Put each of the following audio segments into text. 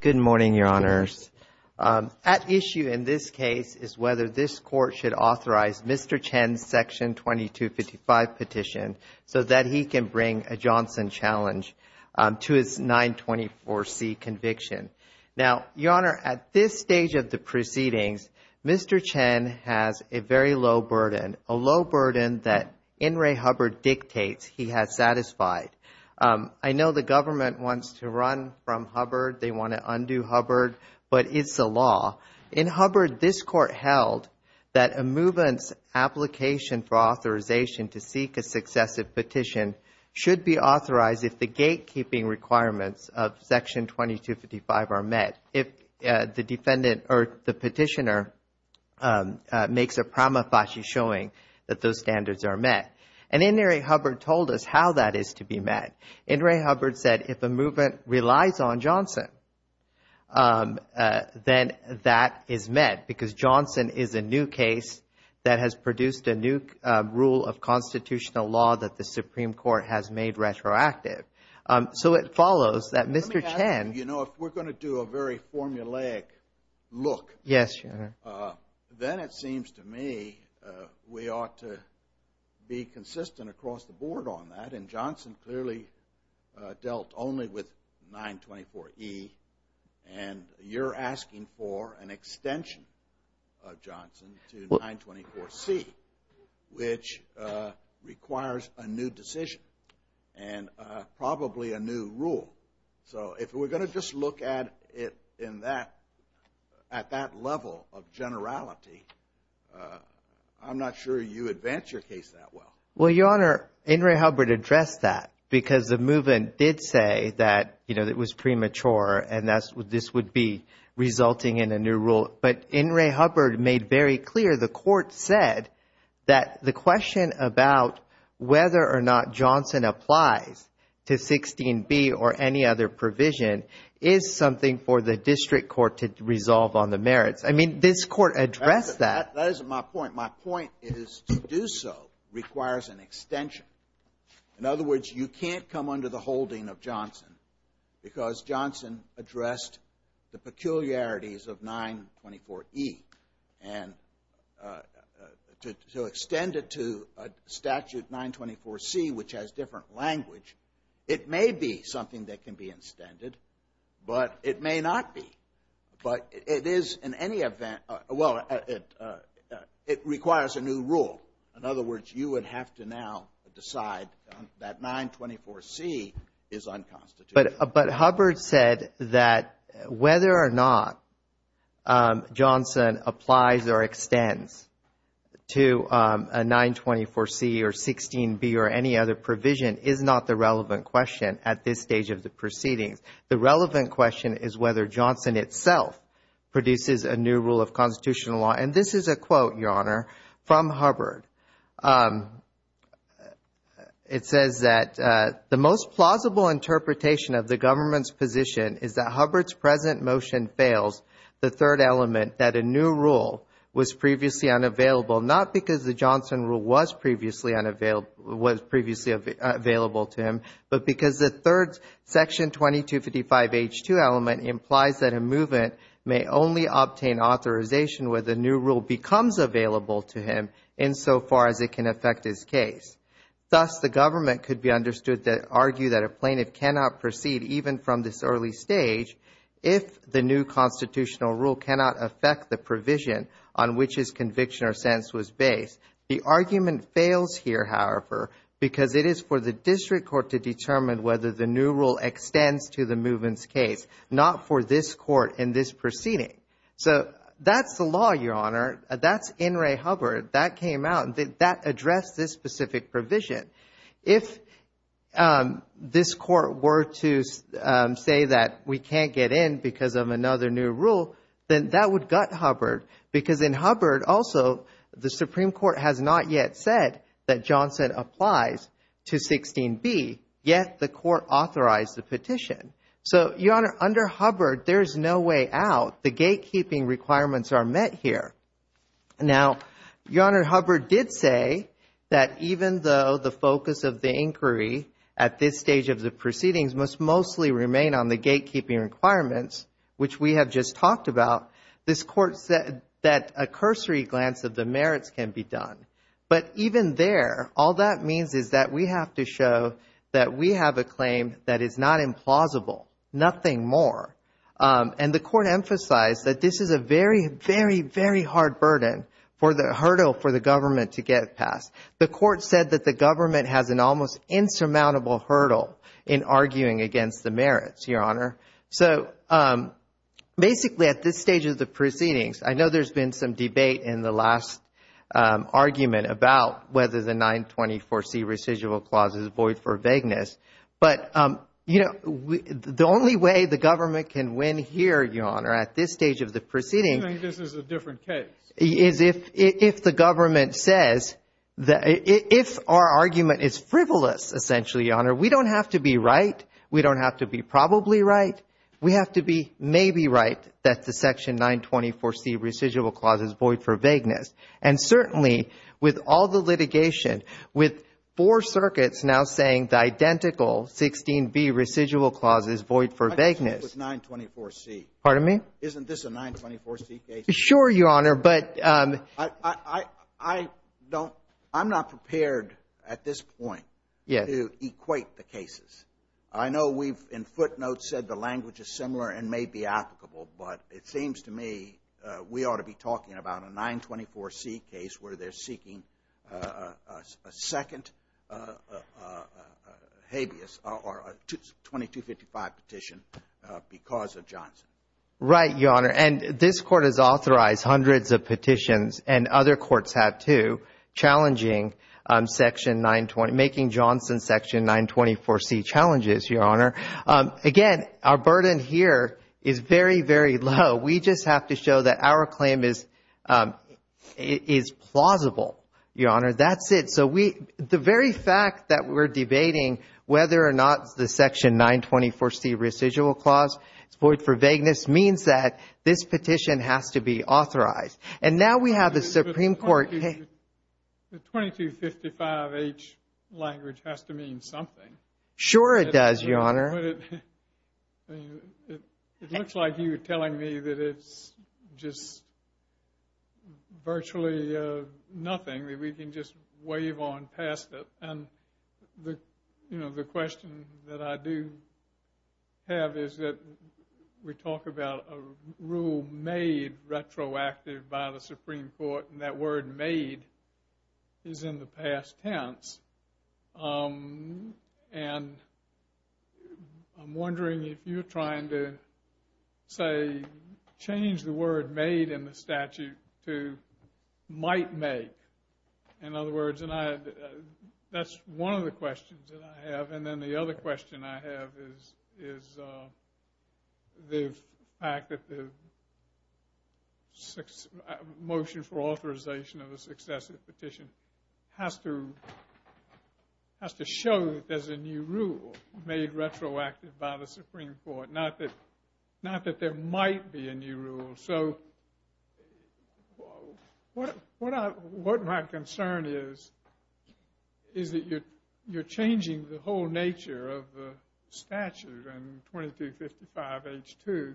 Good morning, Your Honors. At issue in this case is whether this Court should authorize Mr. Chen's Section 2255 petition so that he can bring a Johnson challenge to his 924C conviction. Now, Your Honor, at this stage of the proceedings, Mr. Chen has a very low burden, a low burden that N. Ray Hubbard dictates he has satisfied. I know the government wants to run from Hubbard, they want to undo Hubbard, but it's the law. In Hubbard, this Court held that a movement's application for authorization to seek a successive petition should be authorized if the gatekeeping requirements of Section 2255 are met, if the defendant or the petitioner makes a prima facie showing that those standards are met. And N. Ray Hubbard told us how that is to be met. N. Ray Hubbard said if a movement relies on Johnson, then that is met because Johnson is a new case that has produced a new rule of constitutional law that the Supreme Court has made retroactive. So it follows that Mr. Chen... Let me ask you, if we're going to do a very formulaic look, then it seems to me we ought to be consistent across the board on that, and Johnson clearly dealt only with 924E, and you're asking for an extension of Johnson to 924C, which requires a new decision. And probably a new rule. So if we're going to just look at it in that, at that level of generality, I'm not sure you advance your case that well. Well, Your Honor, N. Ray Hubbard addressed that because the movement did say that it was premature and this would be resulting in a new rule. But N. Ray Hubbard made very clear, the court said, that the question about whether or not Johnson applies to 16B or any other provision is something for the district court to resolve on the merits. I mean, this court addressed that. That isn't my point. My point is to do so requires an extension. In other words, you can't come under the holding of Johnson because Johnson addressed the peculiarities of 924E. And to extend it to a statute 924C, which has different language, it may be something that can be extended, but it may not be. But it is in any event, well, it requires a new rule. In other words, you would have to now decide that 924C is unconstitutional. But Hubbard said that whether or not Johnson applies or extends to a 924C or 16B or any other provision is not the relevant question at this stage of the proceedings. The relevant question is whether Johnson itself produces a new rule of constitutional law. And this is a quote, Your Honor, from Hubbard. It says that the most plausible interpretation of the government's position is that Hubbard's present motion fails the third element that a new rule was previously unavailable, not because the Johnson rule was previously available to him, but because the third section 2255H2 element implies that a movement may only obtain authorization where the new rule becomes available to him insofar as it can affect his case. Thus, the government could be understood to argue that a plaintiff cannot proceed, even from this early stage, if the new constitutional rule cannot affect the provision on which his conviction or sense was based. The argument fails here, however, because it is for the district court to determine whether the new rule extends to the movement's case, not for this court in this proceeding. So that's the law, Your Honor. That's in Ray Hubbard. That came out. That addressed this specific provision. If this court were to say that we can't get in because of another new rule, then that would gut Hubbard, because in Hubbard also the Supreme Court has not yet said that Johnson applies to 16b, yet the court authorized the petition. So, Your Honor, under Hubbard, there is no way out. The gatekeeping requirements are met here. Now, Your Honor, Hubbard did say that even though the focus of the inquiry at this stage of the proceedings must mostly remain on the gatekeeping requirements, which we have just talked about, this court said that a cursory glance of the merits can be done. But even there, all that means is that we have to show that we have a claim that is not implausible, nothing more. And the court emphasized that this is a very, very, very hard burden for the hurdle for the government to get past. The court said that the government has an almost insurmountable hurdle in arguing against the merits, Your Honor. So basically at this stage of the proceedings, I know there's been some debate in the last argument about whether the 924C residual clause is void for vagueness. But, you know, the only way the government can win here, Your Honor, at this stage of the proceedings is if the government says that if our argument is frivolous, essentially, Your Honor, we don't have to be right. We don't have to be probably right. We have to be maybe right that the Section 924C residual clause is void for vagueness. And certainly, with all the litigation, with four circuits now saying the identical 16B residual clause is void for vagueness. I disagree with 924C. Pardon me? Isn't this a 924C case? Sure, Your Honor. But I don't – I'm not prepared at this point to equate the cases. I know we've in footnotes said the language is similar and may be applicable. But it seems to me we ought to be talking about a 924C case where they're seeking a second habeas or a 2255 petition because of Johnson. Right, Your Honor. And this Court has authorized hundreds of petitions, and other courts have too, challenging Section 920 – making Johnson Section 924C challenges, Your Honor. Again, our burden here is very, very low. We just have to show that our claim is plausible, Your Honor. That's it. The very fact that we're debating whether or not the Section 924C residual clause is void for vagueness means that this petition has to be authorized. And now we have the Supreme Court – The 2255H language has to mean something. Sure it does, Your Honor. It looks like you're telling me that it's just virtually nothing, that we can just wave on past it. And, you know, the question that I do have is that we talk about a rule made retroactive by the Supreme Court, and that word made is in the past tense. And I'm wondering if you're trying to, say, change the word made in the statute to might make. In other words, that's one of the questions that I have. And then the other question I have is the fact that the motion for authorization of a successive petition has to show that there's a new rule made retroactive by the Supreme Court. Not that there might be a new rule. So what my concern is, is that you're changing the whole nature of the statute in 2255H2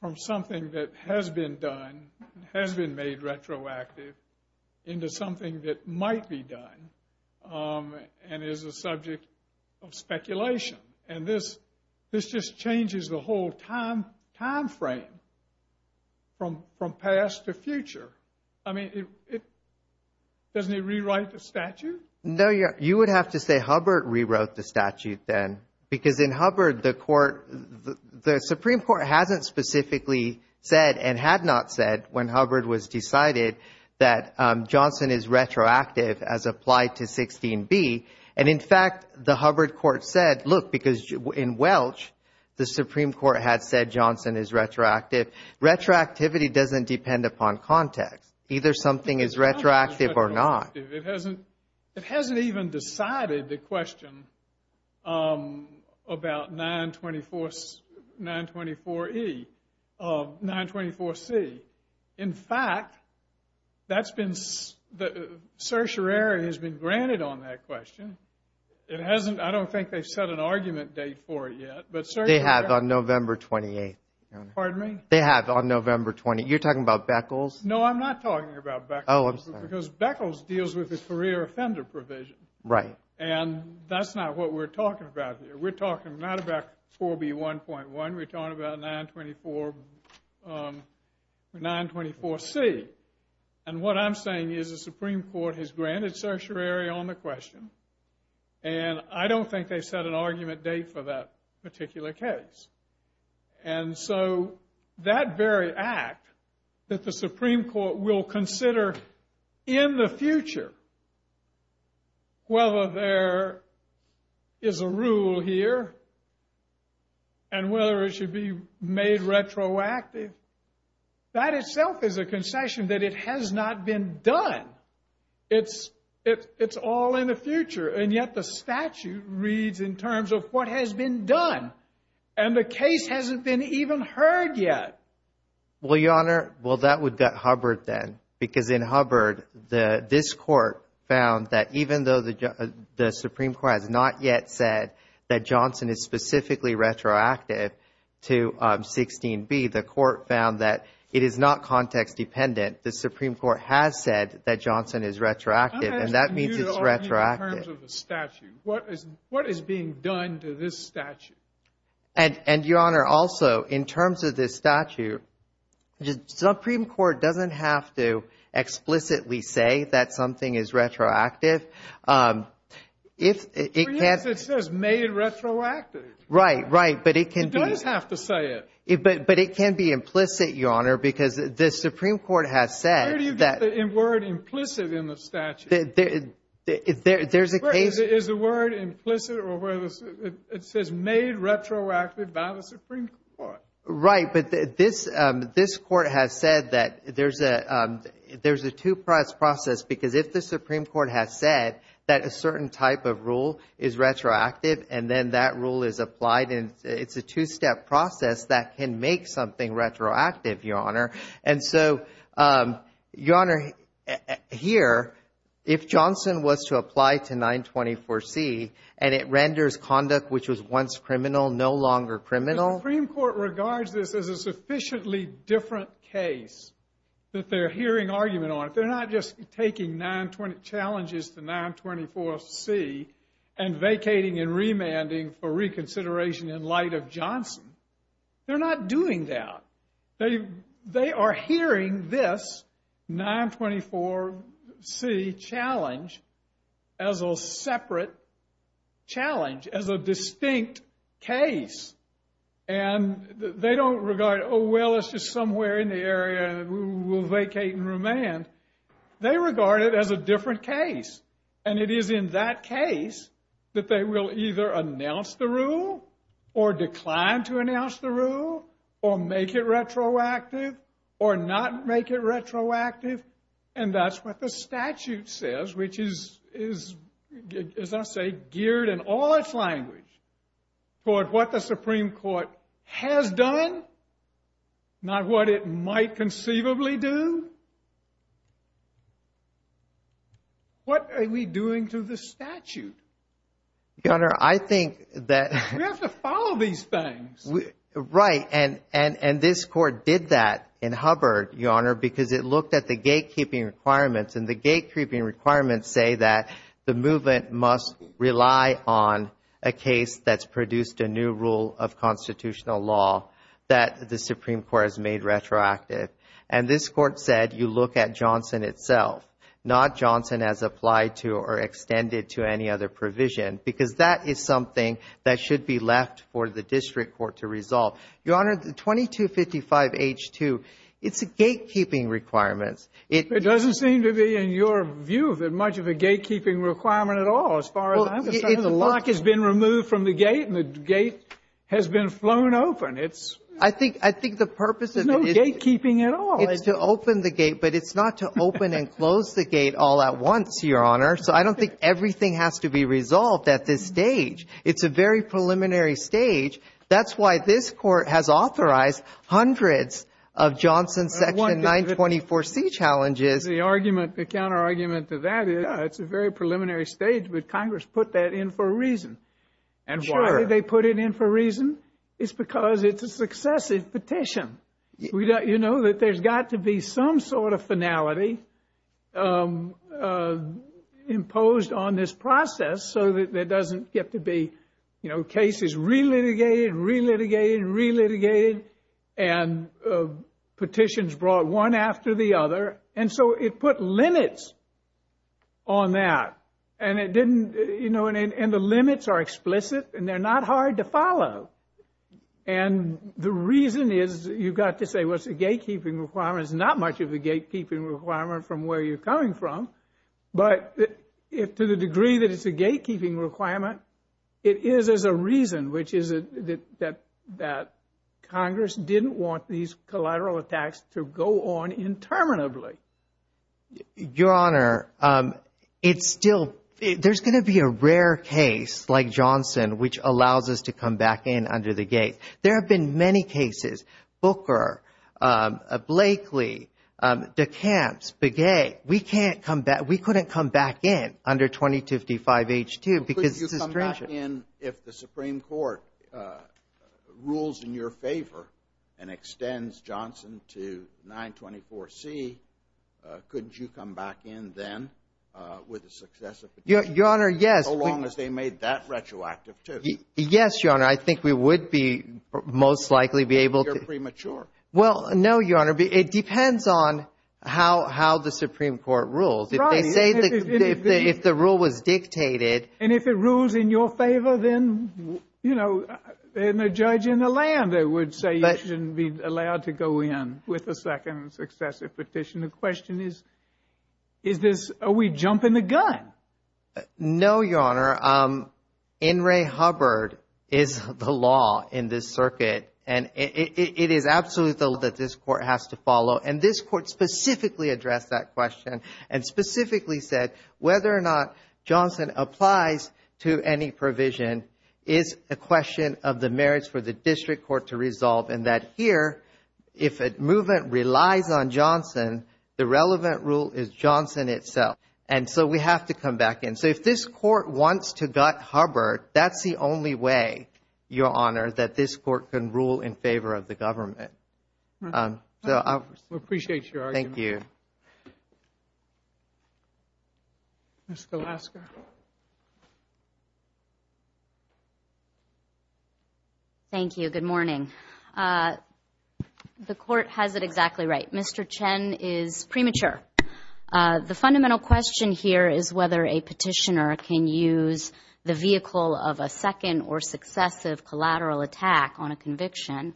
from something that has been done, has been made retroactive, into something that might be done and is a subject of speculation. And this just changes the whole time frame from past to future. I mean, doesn't it rewrite the statute? No, you would have to say Hubbard rewrote the statute then. Because in Hubbard, the Supreme Court hasn't specifically said and had not said when Hubbard was decided that Johnson is retroactive as applied to 16B. And in fact, the Hubbard court said, look, because in Welch, the Supreme Court had said Johnson is retroactive. Retroactivity doesn't depend upon context. Either something is retroactive or not. It hasn't even decided the question about 924E of 924C. In fact, the certiorari has been granted on that question. I don't think they've set an argument date for it yet. They have on November 28. Pardon me? They have on November 28. You're talking about Beckles? No, I'm not talking about Beckles. Oh, I'm sorry. Because Beckles deals with the career offender provision. Right. And that's not what we're talking about here. We're talking not about 4B1.1. We're talking about 924C. And what I'm saying is the Supreme Court has granted certiorari on the question. And I don't think they've set an argument date for that particular case. And so that very act that the Supreme Court will consider in the future, whether there is a rule here and whether it should be made retroactive, that itself is a concession that it has not been done. It's all in the future. And yet the statute reads in terms of what has been done. And the case hasn't been even heard yet. Well, Your Honor, well, that would gut Hubbard then. Because in Hubbard, this court found that even though the Supreme Court has not yet said that Johnson is specifically retroactive to 16B, the court found that it is not context dependent. The Supreme Court has said that Johnson is retroactive, and that means it's retroactive. I'm asking you to argue in terms of the statute. What is being done to this statute? And, Your Honor, also in terms of this statute, the Supreme Court doesn't have to explicitly say that something is retroactive. For years it says made retroactive. Right, right. But it can be. It does have to say it. But it can be implicit, Your Honor, because the Supreme Court has said that. Where do you get the word implicit in the statute? There's a case. Is the word implicit? It says made retroactive by the Supreme Court. Right, but this court has said that there's a two-step process, because if the Supreme Court has said that a certain type of rule is retroactive and then that rule is applied, it's a two-step process that can make something retroactive, Your Honor. And so, Your Honor, here, if Johnson was to apply to 924C and it renders conduct which was once criminal no longer criminal. The Supreme Court regards this as a sufficiently different case that they're hearing argument on. They're not just taking challenges to 924C and vacating and remanding for reconsideration in light of Johnson. They're not doing that. They are hearing this 924C challenge as a separate challenge, as a distinct case. And they don't regard, oh, well, it's just somewhere in the area and we'll vacate and remand. They regard it as a different case. And it is in that case that they will either announce the rule or decline to announce the rule or make it retroactive or not make it retroactive. And that's what the statute says, which is, as I say, geared in all its language toward what the Supreme Court has done, not what it might conceivably do. What are we doing to the statute? Your Honor, I think that... We have to follow these things. Right. And this Court did that in Hubbard, Your Honor, because it looked at the gatekeeping requirements. And the gatekeeping requirements say that the movement must rely on a case that's produced a new rule of constitutional law that the Supreme Court has made retroactive. And this Court said you look at Johnson itself, not Johnson as applied to or extended to any other provision, because that is something that should be left for the district court to resolve. Your Honor, 2255H2, it's gatekeeping requirements. It doesn't seem to be, in your view, much of a gatekeeping requirement at all as far as I'm concerned. The lock has been removed from the gate and the gate has been flown open. I think the purpose of it is... There's no gatekeeping at all. It's to open the gate, but it's not to open and close the gate all at once, Your Honor. So I don't think everything has to be resolved at this stage. It's a very preliminary stage. That's why this Court has authorized hundreds of Johnson Section 924C challenges. The argument, the counterargument to that is it's a very preliminary stage, but Congress put that in for a reason. And why did they put it in for a reason? It's because it's a successive petition. You know, that there's got to be some sort of finality imposed on this process so that there doesn't get to be cases relitigated and relitigated and relitigated and petitions brought one after the other. And so it put limits on that. And the limits are explicit and they're not hard to follow. And the reason is you've got to say, well, it's a gatekeeping requirement. It's not much of a gatekeeping requirement from where you're coming from. But to the degree that it's a gatekeeping requirement, it is as a reason, which is that Congress didn't want these collateral attacks to go on interminably. Your Honor, it's still – there's going to be a rare case like Johnson which allows us to come back in under the gate. There have been many cases, Booker, Blakely, DeCamps, Begay. We can't come back. We couldn't come back in under 2055H2 because this is stringent. Could you come back in if the Supreme Court rules in your favor and extends Johnson to 924C? Could you come back in then with a successive petition? Your Honor, yes. As long as they made that retroactive, too. Yes, Your Honor. I think we would be most likely be able to. But you're premature. Well, no, Your Honor. It depends on how the Supreme Court rules. If they say that if the rule was dictated. And if it rules in your favor, then, you know, the judge in the land would say you shouldn't be allowed to go in with a second successive petition. The question is, is this – are we jumping the gun? No, Your Honor. In re Hubbard is the law in this circuit. And it is absolutely the law that this court has to follow. And this court specifically addressed that question and specifically said whether or not Johnson applies to any provision is a question of the merits for the district court to resolve. And that here, if a movement relies on Johnson, the relevant rule is Johnson itself. And so we have to come back in. So if this court wants to gut Hubbard, that's the only way, Your Honor, that this court can rule in favor of the government. We appreciate your argument. Thank you. Ms. Golaska. Thank you. Good morning. The court has it exactly right. Mr. Chen is premature. The fundamental question here is whether a petitioner can use the vehicle of a second or successive collateral attack on a conviction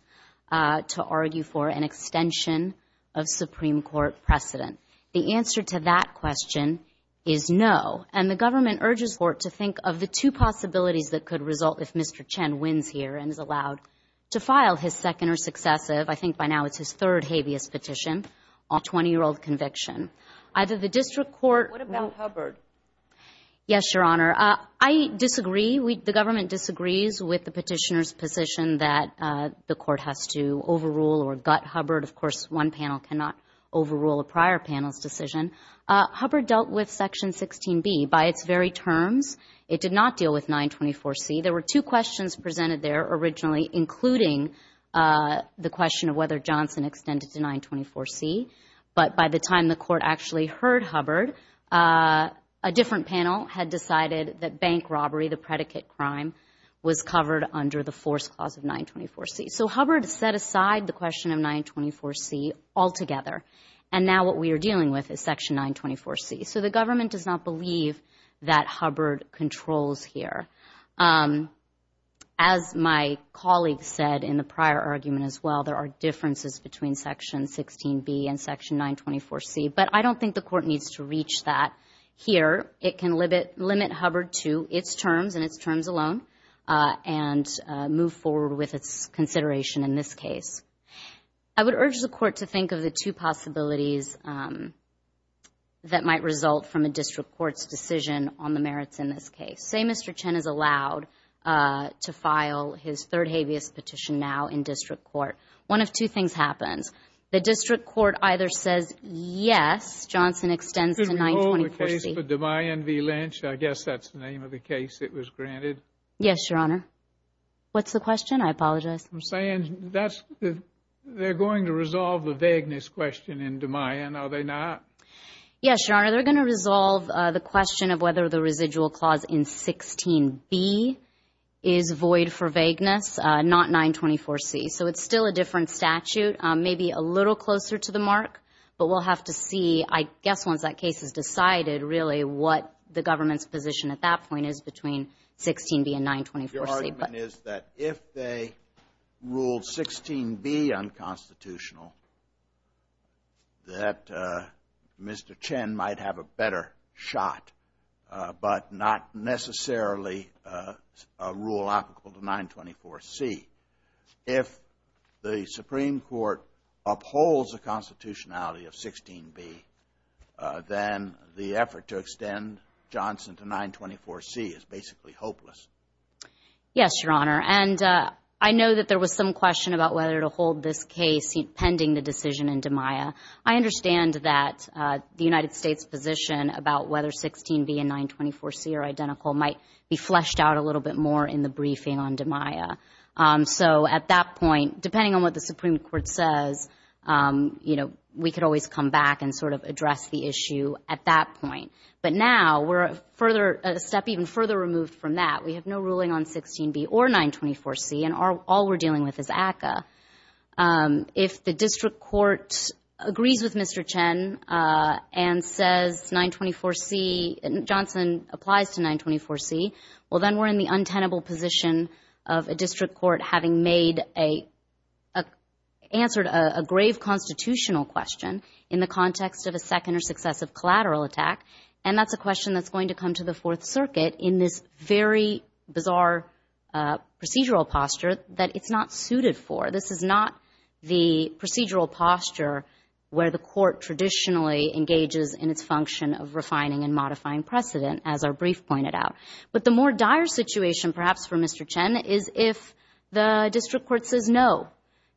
to argue for an extension of Supreme Court precedent. The answer to that question is no. And the government urges the court to think of the two possibilities that could result if Mr. Chen wins here and is allowed to file his second or successive, I think by now it's his third habeas petition, on a 20-year-old conviction. Either the district court or... What about Hubbard? Yes, Your Honor. I disagree. The government disagrees with the petitioner's position that the court has to overrule or gut Hubbard. Of course, one panel cannot overrule a prior panel's decision. Hubbard dealt with Section 16B by its very terms. It did not deal with 924C. There were two questions presented there originally, including the question of whether Johnson extended to 924C. But by the time the court actually heard Hubbard, a different panel had decided that bank robbery, the predicate crime, was covered under the Force Clause of 924C. So Hubbard set aside the question of 924C altogether, and now what we are dealing with is Section 924C. So the government does not believe that Hubbard controls here. As my colleague said in the prior argument as well, there are differences between Section 16B and Section 924C, but I don't think the court needs to reach that here. It can limit Hubbard to its terms and its terms alone and move forward with its consideration in this case. I would urge the court to think of the two possibilities that might result from a district court's decision on the merits in this case. Say Mr. Chen is allowed to file his third habeas petition now in district court. One of two things happens. The district court either says yes, Johnson extends to 924C. Could we hold the case for DeMayan v. Lynch? I guess that's the name of the case that was granted. Yes, Your Honor. What's the question? I apologize. I'm saying they're going to resolve the vagueness question in DeMayan, are they not? Yes, Your Honor. They're going to resolve the question of whether the residual clause in 16B is void for vagueness, not 924C. So it's still a different statute, maybe a little closer to the mark, but we'll have to see, I guess, once that case is decided, really what the government's position at that point is between 16B and 924C. My argument is that if they ruled 16B unconstitutional, that Mr. Chen might have a better shot, but not necessarily a rule applicable to 924C. If the Supreme Court upholds the constitutionality of 16B, then the effort to extend Johnson to 924C is basically hopeless. Yes, Your Honor. And I know that there was some question about whether to hold this case pending the decision in DeMayan. I understand that the United States position about whether 16B and 924C are identical might be fleshed out a little bit more in the briefing on DeMayan. So at that point, depending on what the Supreme Court says, we could always come back and sort of address the issue at that point. But now we're a step even further removed from that. We have no ruling on 16B or 924C, and all we're dealing with is ACCA. If the district court agrees with Mr. Chen and says Johnson applies to 924C, well, then we're in the untenable position of a district court having answered a grave constitutional question in the context of a second or successive collateral attack, and that's a question that's going to come to the Fourth Circuit in this very bizarre procedural posture that it's not suited for. This is not the procedural posture where the court traditionally engages in its function of refining and modifying precedent, as our brief pointed out. But the more dire situation perhaps for Mr. Chen is if the district court says no,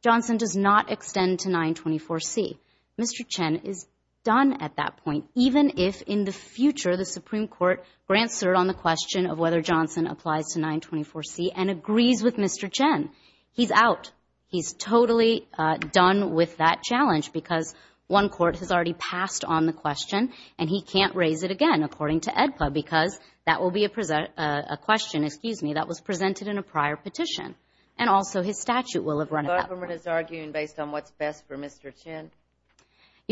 Johnson does not extend to 924C. Mr. Chen is done at that point, even if in the future the Supreme Court grants cert on the question of whether Johnson applies to 924C and agrees with Mr. Chen. He's out. He's totally done with that challenge because one court has already passed on the question, and he can't raise it again, according to AEDPA, because that will be a question, excuse me, that was presented in a prior petition, and also his statute will have run it out. The government is arguing based on what's best for Mr. Chen?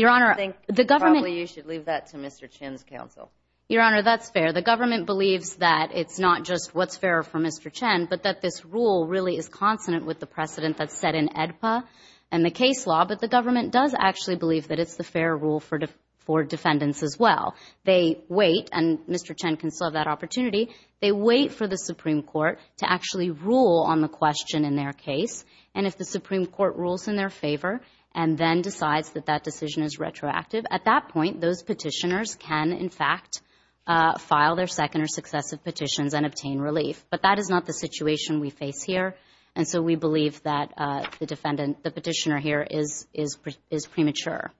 I think probably you should leave that to Mr. Chen's counsel. Your Honor, that's fair. The government believes that it's not just what's fair for Mr. Chen, but that this rule really is consonant with the precedent that's set in AEDPA and the case law, but the government does actually believe that it's the fair rule for defendants as well. They wait, and Mr. Chen can still have that opportunity. They wait for the Supreme Court to actually rule on the question in their case, and if the Supreme Court rules in their favor and then decides that that decision is retroactive, at that point those petitioners can, in fact, file their second or successive petitions and obtain relief. But that is not the situation we face here, and so we believe that the petitioner here is premature.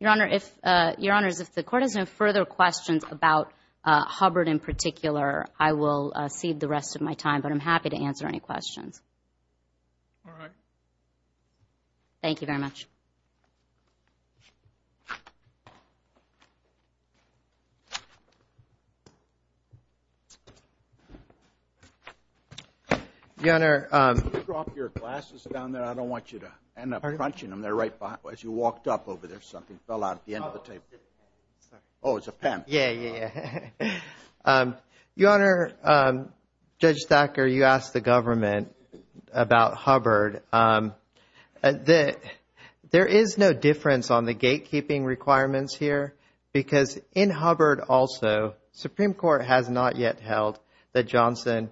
Your Honor, if the Court has no further questions about Hubbard in particular, I will cede the rest of my time, but I'm happy to answer any questions. All right. Thank you very much. Your Honor. Could you drop your glasses down there? I don't want you to end up crunching them. They're right as you walked up over there. Something fell out at the end of the table. Oh, it's a pen. Yeah, yeah, yeah. Your Honor, Judge Thacker, you asked the government about Hubbard. There is no difference on the gatekeeping requirements here because in Hubbard also, the Supreme Court has not yet held that Johnson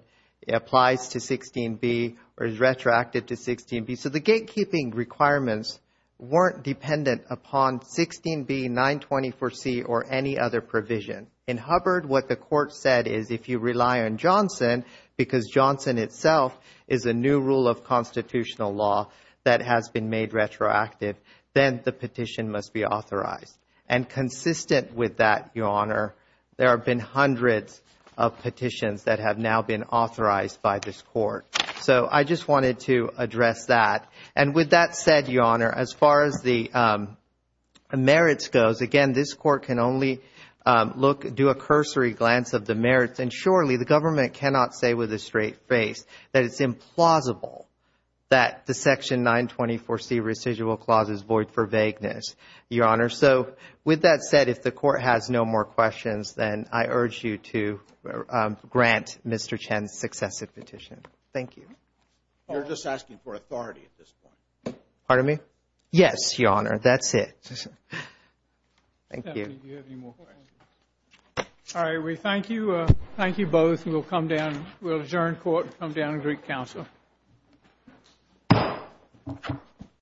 applies to 16b or is retroactive to 16b, so the gatekeeping requirements weren't dependent upon 16b, 924C, or any other provision. In Hubbard, what the Court said is if you rely on Johnson, because Johnson itself is a new rule of constitutional law that has been made retroactive, then the petition must be authorized. And consistent with that, Your Honor, there have been hundreds of petitions that have now been authorized by this Court. So I just wanted to address that. And with that said, Your Honor, as far as the merits goes, again, this Court can only do a cursory glance of the merits, and surely the government cannot say with a straight face that it's implausible that the section 924C residual clause is void for vagueness, Your Honor. So with that said, if the Court has no more questions, then I urge you to grant Mr. Chen's successive petition. Thank you. You're just asking for authority at this point. Pardon me? Yes, Your Honor. That's it. Thank you. If you have any more questions. All right. We thank you. Thank you both. And we'll come down. We'll adjourn court and come down to Greek Council.